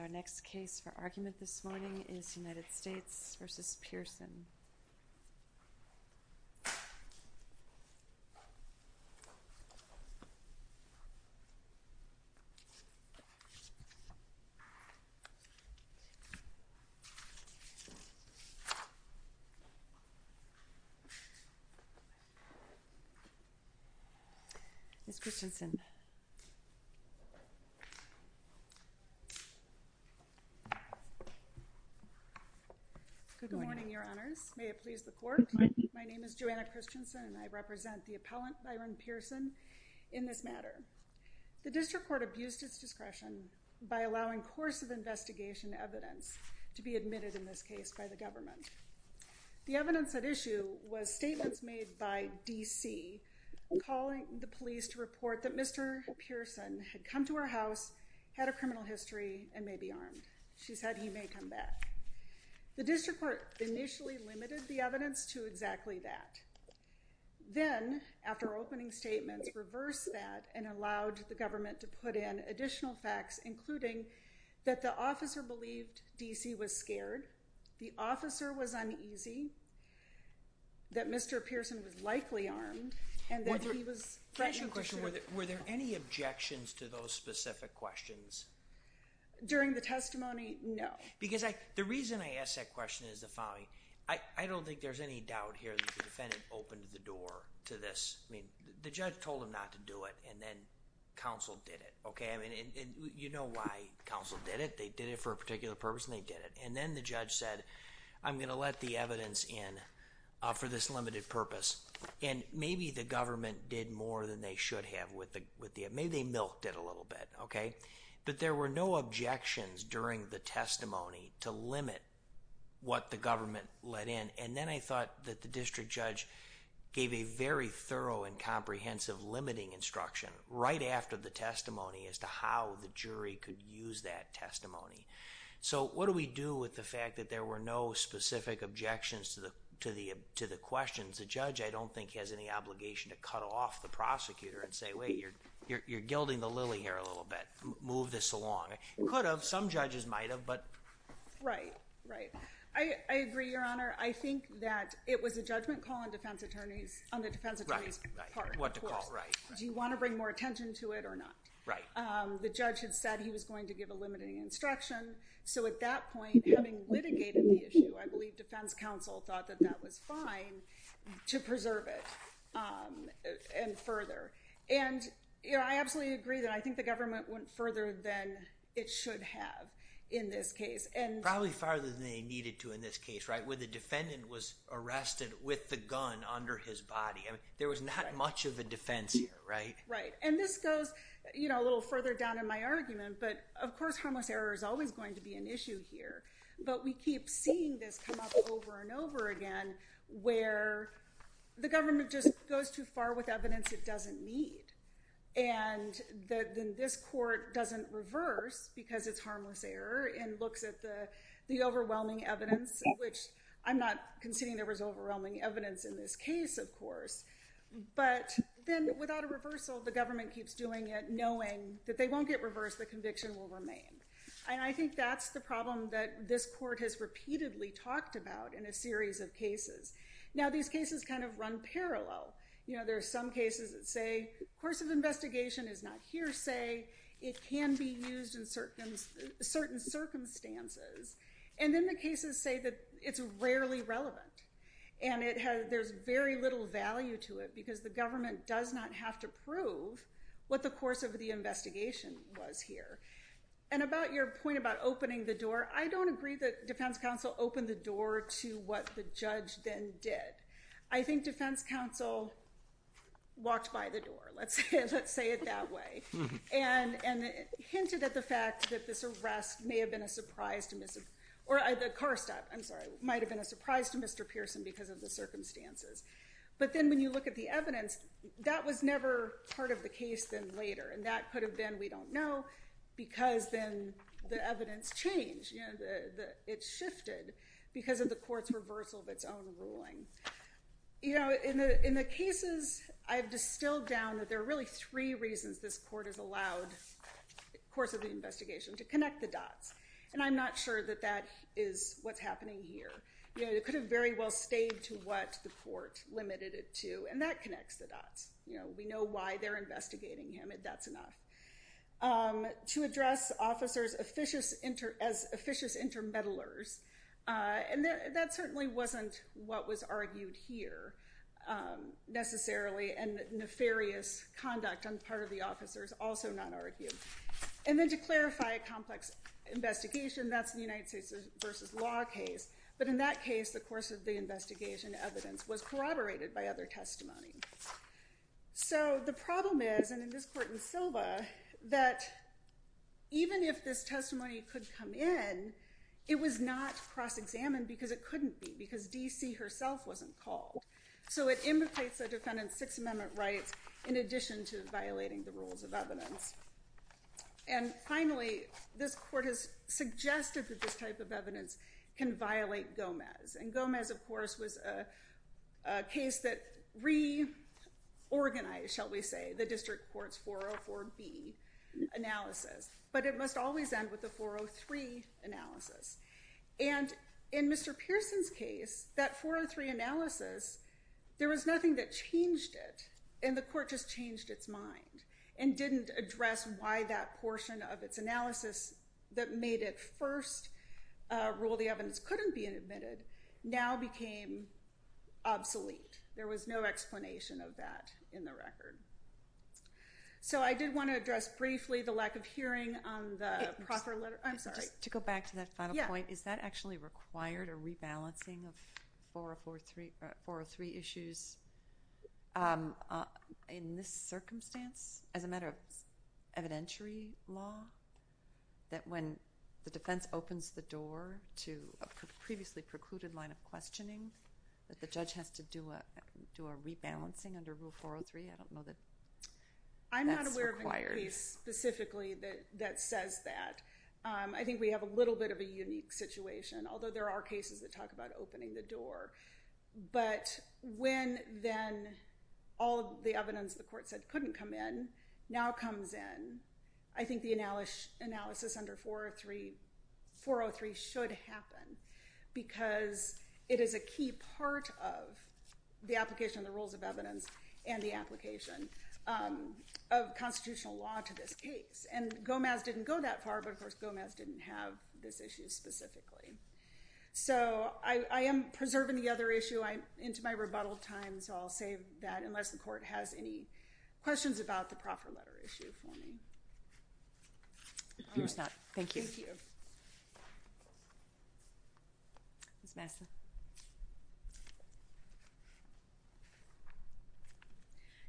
Our next case for argument this morning is United States v. Pierson. Ms. Christensen Good morning, your honors, may it please the court. My name is Joanna Christensen and I represent the appellant, Byron Pierson, in this matter. The district court abused its discretion by allowing course of investigation evidence to be admitted in this case by the government. The evidence at issue was statements made by D.C. calling the police to report that Mr. Pierson had come to our house, had a criminal history, and may be armed. She said he may come back. The district court initially limited the evidence to exactly that. Then, after opening statements, reversed that and allowed the government to put in additional facts, including that the officer believed D.C. was scared, the officer was uneasy, that Mr. Pierson was likely armed, and that he was threatened to shoot. Judge Goldberg Were there any objections to those specific questions? Ms. Christensen During the testimony, no. Judge Goldberg The reason I ask that question is the following. I don't think there's any doubt here that the defendant opened the door to this. The judge told him not to do it and then counsel did it. You know why counsel did it. They did it for a particular purpose and they did it. Then the judge said, I'm going to let the evidence in for this limited purpose. Maybe the government did more than they should have with the evidence. Maybe they milked it a little bit. But there were no objections during the testimony to limit what the government let in. Then I thought that the district judge gave a very thorough and comprehensive limiting instruction right after the testimony as to how the jury could use that testimony. What do we do with the fact that there were no specific objections to the questions? The judge, I don't think, has any obligation to cut off the prosecutor and say, wait, you're gilding the lily here a little bit. Move this along. It could have. Some judges might have, but right, right. I agree, Your Honor. I think that it was a judgment call on defense attorneys on the defense attorney's part. Do you want to bring more attention to it or not? Right. The judge had said he was going to give a limiting instruction. So at that point, having litigated the issue, I believe defense counsel thought that that was fine to preserve it, um, and further. And I absolutely agree that I think the government went further than it should have in this case and probably farther than they needed to in this case, right? Where the defendant was arrested with the gun under his body. I mean, there was not much of a defense here, right? Right. And this goes, you know, a little further down in my argument. But of course, harmless error is always going to be an issue here. But we keep seeing this come up over and over again, where the government just goes too far with evidence it doesn't need. And then this court doesn't reverse because it's harmless error and looks at the overwhelming evidence, which I'm not conceding there was overwhelming evidence in this case, of course. But then without a reversal, the government keeps doing it, knowing that they won't get reversed. The conviction will remain. And I think that's the problem that this court has repeatedly talked about in a series of parallel. You know, there are some cases that say, course of investigation is not hearsay. It can be used in certain circumstances. And then the cases say that it's rarely relevant. And it has, there's very little value to it because the government does not have to prove what the course of the investigation was here. And about your point about opening the door, I don't agree that defense counsel opened the door to what the judge then did. I think defense counsel walked by the door, let's say it that way, and hinted at the fact that this arrest may have been a surprise to Mr. or the car stop, I'm sorry, might have been a surprise to Mr. Pearson because of the circumstances. But then when you look at the evidence, that was never part of the case then later. And that could have been, we don't know, because then the evidence changed. It shifted because of the court's reversal of its own ruling. You know, in the cases, I've distilled down that there are really three reasons this court has allowed the course of the investigation to connect the dots. And I'm not sure that that is what's happening here. You know, it could have very well stayed to what the court limited it to, and that connects the dots. You know, we know why they're investigating him and that's enough. To address officers as officious intermeddlers, and that certainly wasn't what was argued here, necessarily, and nefarious conduct on the part of the officers also not argued. And then to clarify a complex investigation, that's the United States versus law case. But in that case, the course of the investigation evidence was corroborated by other testimony. So the problem is, and in this court in Silva, that even if this case was re-organized, it must always end with the 403 analysis. And in Mr. Pearson's case, that 403 analysis, there was nothing that changed it. And the court just changed its mind and didn't address why that portion of its analysis that made it first rule the evidence couldn't be admitted now became obsolete. There was no explanation of that in the record. So I did want to address briefly the lack of hearing on the proffer letter. I'm sorry. To go back to that final point, is that actually required a rebalancing of 403 issues in this circumstance as a matter of evidentiary law? That when the defense opens the door to a previously precluded line of questioning, that the judge has to do a rebalancing under Rule 403? I don't know that that's required. I'm not aware of a case specifically that says that. I think we have a little bit of a unique situation, although there are cases that talk about opening the door. But when then all of the evidence the court said couldn't come in now comes in, I think the analysis under 403 should happen because it is a key part of the application of the rules of evidence and the application of constitutional law to this case. And Gomez didn't go that far, but, of course, Gomez didn't have this issue specifically. So I am preserving the other issue. I'm into my rebuttal time, so I'll save that unless the court has any questions about the proffer letter issue for me. All right, thank you. Ms. Masson?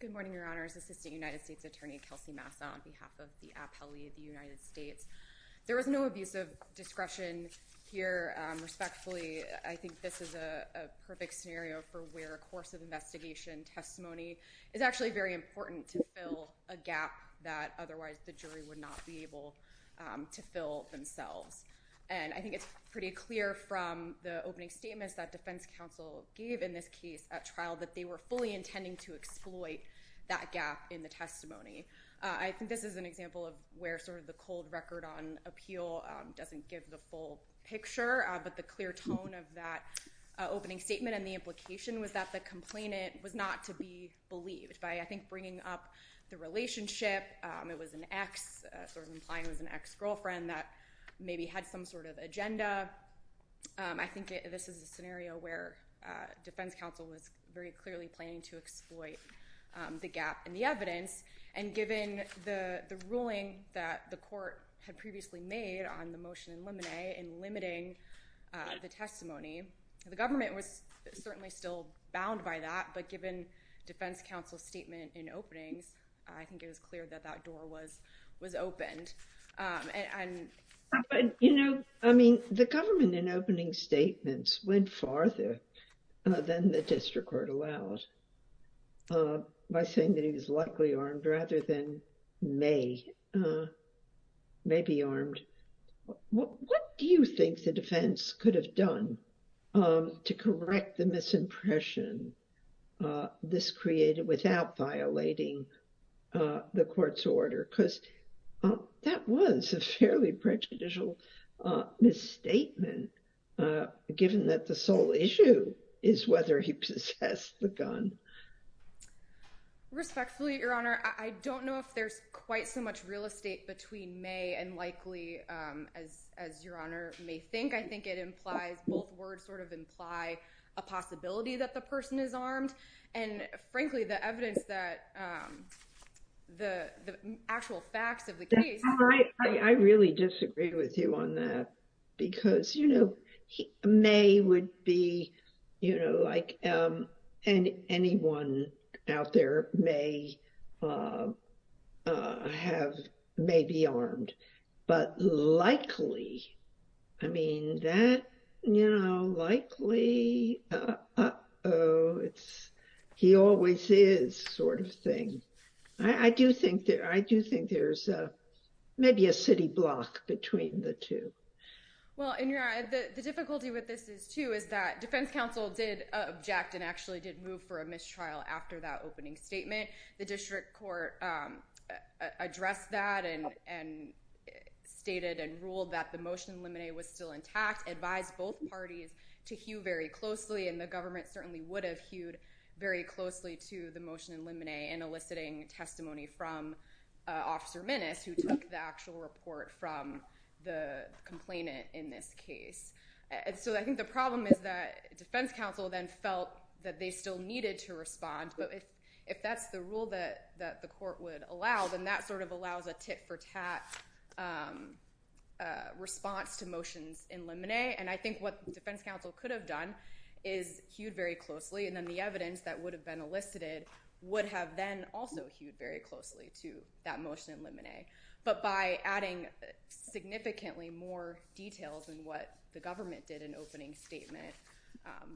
Good morning, Your Honors. Assistant United States Attorney Kelsey Masson on behalf of the appellee of the United States. There was no abuse of discretion here, respectfully. I think this is a perfect scenario for where a course of investigation testimony is actually very important to fill a gap that otherwise the jury would not be able to fill themselves. And I think it's pretty clear from the opening statements that defense counsel gave in this case at trial that they were fully intending to exploit that gap in the testimony. I think this is an example of where sort of the cold record on appeal doesn't give the full picture, but the clear tone of that opening statement and the implication was that the complainant was not to be believed. By, I think, bringing up the relationship, it was an ex, sort of had some sort of agenda. I think this is a scenario where defense counsel was very clearly planning to exploit the gap in the evidence, and given the ruling that the court had previously made on the motion in limine in limiting the testimony, the government was certainly still bound by that, but given defense counsel's statement in openings, I think it was clear that that door was, was opened. But, you know, I mean, the government in opening statements went farther than the district court allowed by saying that he was likely armed rather than may, may be armed. What do you think the defense could have done to correct the misimpression this created without violating the court's order? Because that was a fairly prejudicial misstatement, given that the sole issue is whether he possessed the gun. Respectfully, your honor, I don't know if there's quite so much real estate between may and likely as, as your honor may think. I think it implies both words sort of imply a possibility that the person is armed. And frankly, the evidence that the actual facts of the case. I really disagree with you on that. Because, you know, may would be, you know, like and he, he always is sort of thing. I do think that I do think there's maybe a city block between the two. Well, in your eye, the difficulty with this is too, is that defense counsel did object and actually did move for a mistrial after that opening statement, the district court addressed that and, and stated and ruled that the motion limine was still intact, advise both parties to hew very closely. And the government certainly would have hewed very closely to the motion in limine and eliciting testimony from officer menace, who took the actual report from the complainant in this case. And so I think the problem is that defense counsel then felt that they still needed to respond. But if, if that's the rule that the court would allow, then that sort of allows a tit for tat response to motions in limine. And I think what defense counsel could have done is hewed very closely. And then the evidence that would have been elicited would have then also hewed very closely to that motion in limine. But by adding significantly more details than what the government did in opening statement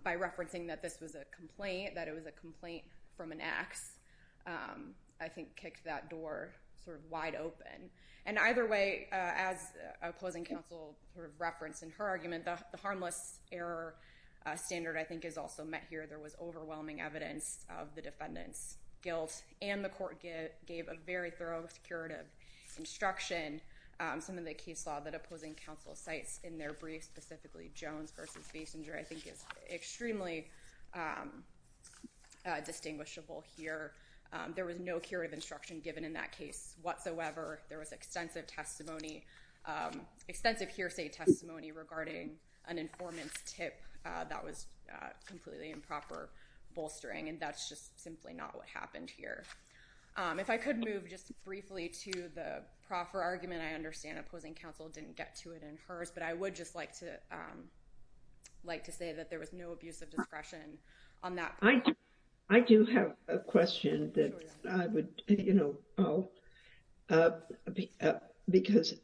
by referencing that this was a complaint, that it was a complaint from an ax, I think kicked that door sort of wide open. And either way, as opposing counsel referenced in her argument, the harmless error standard I think is also met here. There was overwhelming evidence of the defendant's guilt and the court gave a very thorough curative instruction. Some of the case law that opposing counsel cites in their brief, specifically Jones versus Basinger, I think is extremely distinguishable here. There was no curative instruction given in that case whatsoever. There was extensive testimony, extensive hearsay testimony regarding an informant's tip that was completely improper bolstering. And that's just simply not what happened here. If I could move just briefly to the proffer argument, I understand opposing counsel didn't get to it in hers, but I would just like to like to say that there was no abuse of discretion on that. I do have a question that I would, you know, because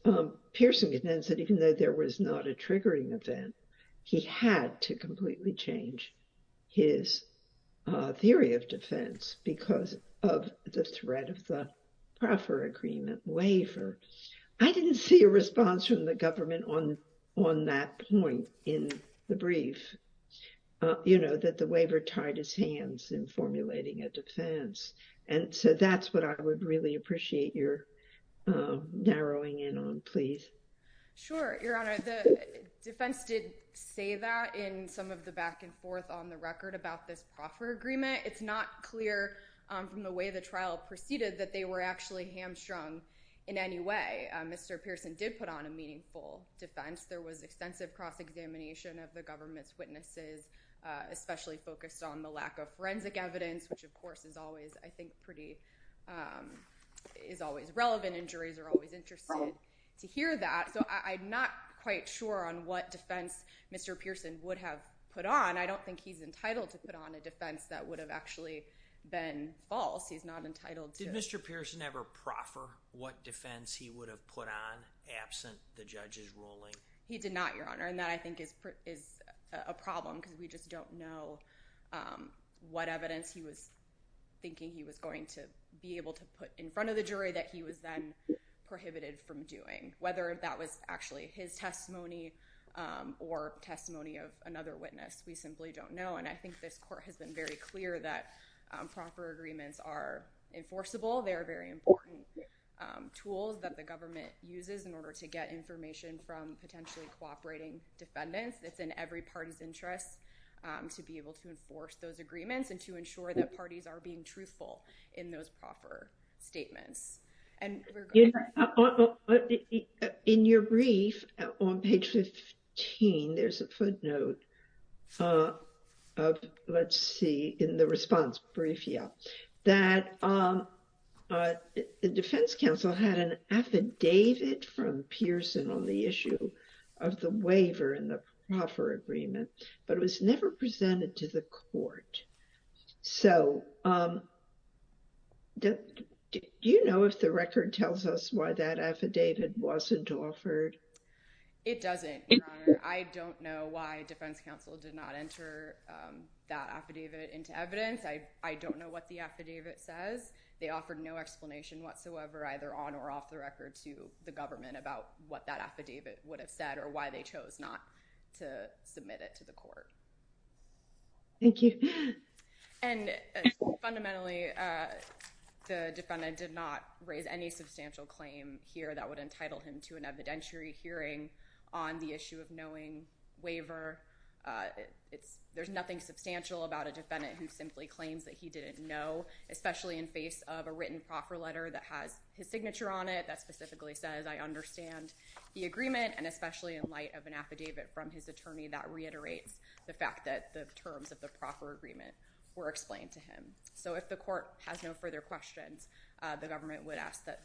Pearson contends that even though there was not a triggering event, he had to completely change his theory of defense because of the threat of the proffer agreement waiver. I didn't see a response from the government on that point in the brief, you know, that the waiver tied his hands in formulating a defense. And so that's what I would really appreciate your narrowing in on, please. Sure, Your Honor. The defense did say that in some of the back and forth on the record about this proffer agreement. It's not clear from the way the trial proceeded that they were actually hamstrung in any way. Mr. Pearson did put on a meaningful defense. There was extensive cross-examination of the government's witnesses, especially focused on the lack of forensic evidence, which of course is always, I think, pretty, is always relevant and juries are always interested to hear that. So I'm not quite sure on what defense Mr. Pearson would have put on. I don't think he's entitled to put on a defense that would have actually been false. He's not entitled to. Did Mr. Pearson ever proffer what defense he would have put on absent the judge's ruling? He did not, Your Honor, and that I think is a problem because we just don't know what evidence he was thinking he was going to be able to put in front of the jury that he was then prohibited from doing. Whether that was actually his testimony or testimony of another witness, we simply don't know. And I think this court has been very clear that proffer agreements are enforceable. They are very important tools that the government uses in order to get information from potentially cooperating defendants. It's in every party's interest to be able to enforce those agreements and to ensure that parties are being truthful in those proffer statements. In your brief on page 15, there's a footnote of, let's see, in the response brief, yeah, that the defense counsel had an affidavit from Pearson on the issue of the waiver and the record tells us why that affidavit wasn't offered. It doesn't. I don't know why defense counsel did not enter that affidavit into evidence. I don't know what the affidavit says. They offered no explanation whatsoever either on or off the record to the government about what that affidavit would have said or why they chose not to submit it to the court. Thank you. And fundamentally, the defendant did not raise any substantial claim here that would entitle him to an evidentiary hearing on the issue of knowing waiver. There's nothing substantial about a defendant who simply claims that he didn't know, especially in face of a written proffer letter that has his signature on it that specifically says, I understand the agreement, and especially in light of an affidavit from his attorney that reiterates the fact that the terms of the proffer agreement were explained to him. So if the court has no further questions, the government would ask that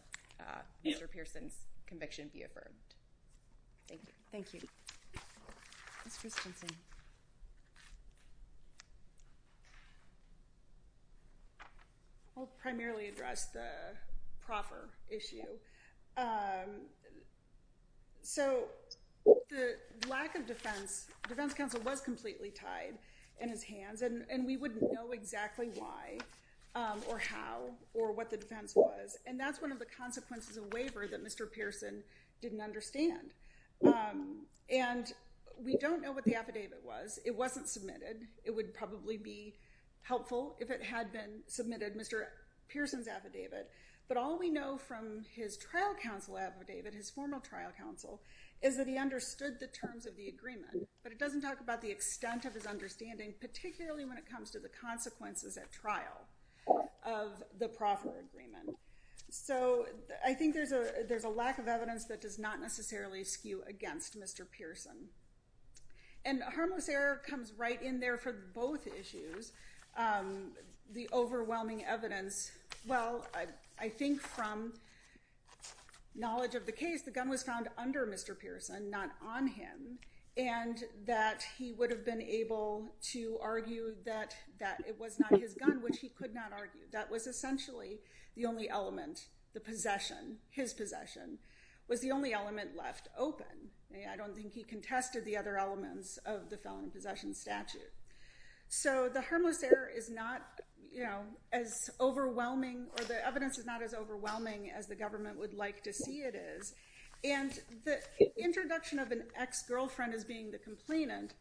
Mr. Pearson's conviction be affirmed. Thank you. Thank you. Ms. Christensen. I'll primarily address the proffer issue. So the lack of defense, defense counsel was completely tied in his hands and we wouldn't know exactly why or how or what the defense was. And that's one of the consequences of waiver that Mr. Pearson didn't understand. And we don't know what the affidavit was. It wasn't submitted. It would probably be helpful if it had been submitted, Mr. Pearson's affidavit. But all we know from his trial counsel affidavit, his formal trial counsel, is that he understood the terms of the agreement, but it doesn't talk about the extent of his understanding, particularly when it comes to the consequences at trial of the proffer agreement. So I think there's a, there's a lack of evidence that does not necessarily skew against Mr. Pearson. And harmless error comes right in there for both issues. The overwhelming evidence, well, I think from knowledge of the case, the gun was found under Mr. Pearson, not on him, and that he would have been able to argue that that it was not his gun, which he could not argue. That was essentially the only element, the possession, his possession, was the only element left open. I don't think he contested the other elements of the felon in possession statute. So the harmless error is not, you know, as overwhelming or the evidence is not as overwhelming as the government would like to see it is. And the introduction of an ex-girlfriend as being the complainant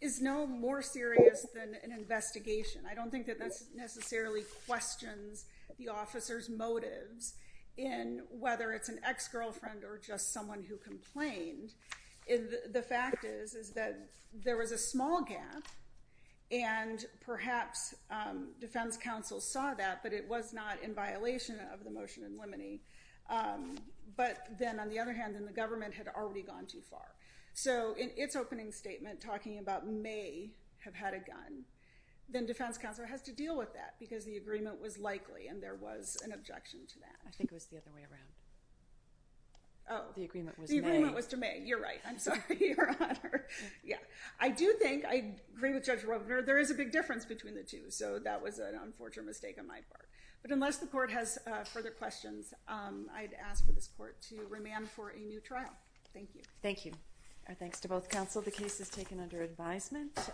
is no more serious than an investigation. I don't think that that's necessarily questions the officer's motives in whether it's an ex-girlfriend or just someone who complained. The fact is, is that there was a small gap and perhaps defense counsel saw that, but it was not in violation of the motion in limine. But then on the other hand, then the government had already gone too far. So in its opening statement, talking about may have had a gun, then defense counsel has to deal with that because the agreement was likely and there was an objection to that. I think it was the other way around. Oh, the agreement was to me. You're right. I'm sorry. Yeah. I do think I agree with Judge Ropener. There is a big difference between the two. So that was an unfortunate mistake on my part. But unless the court has further questions, I'd ask for this court to remand for a new trial. Thank you. Thank you. Our thanks to both counsel. The case is taken under advisement.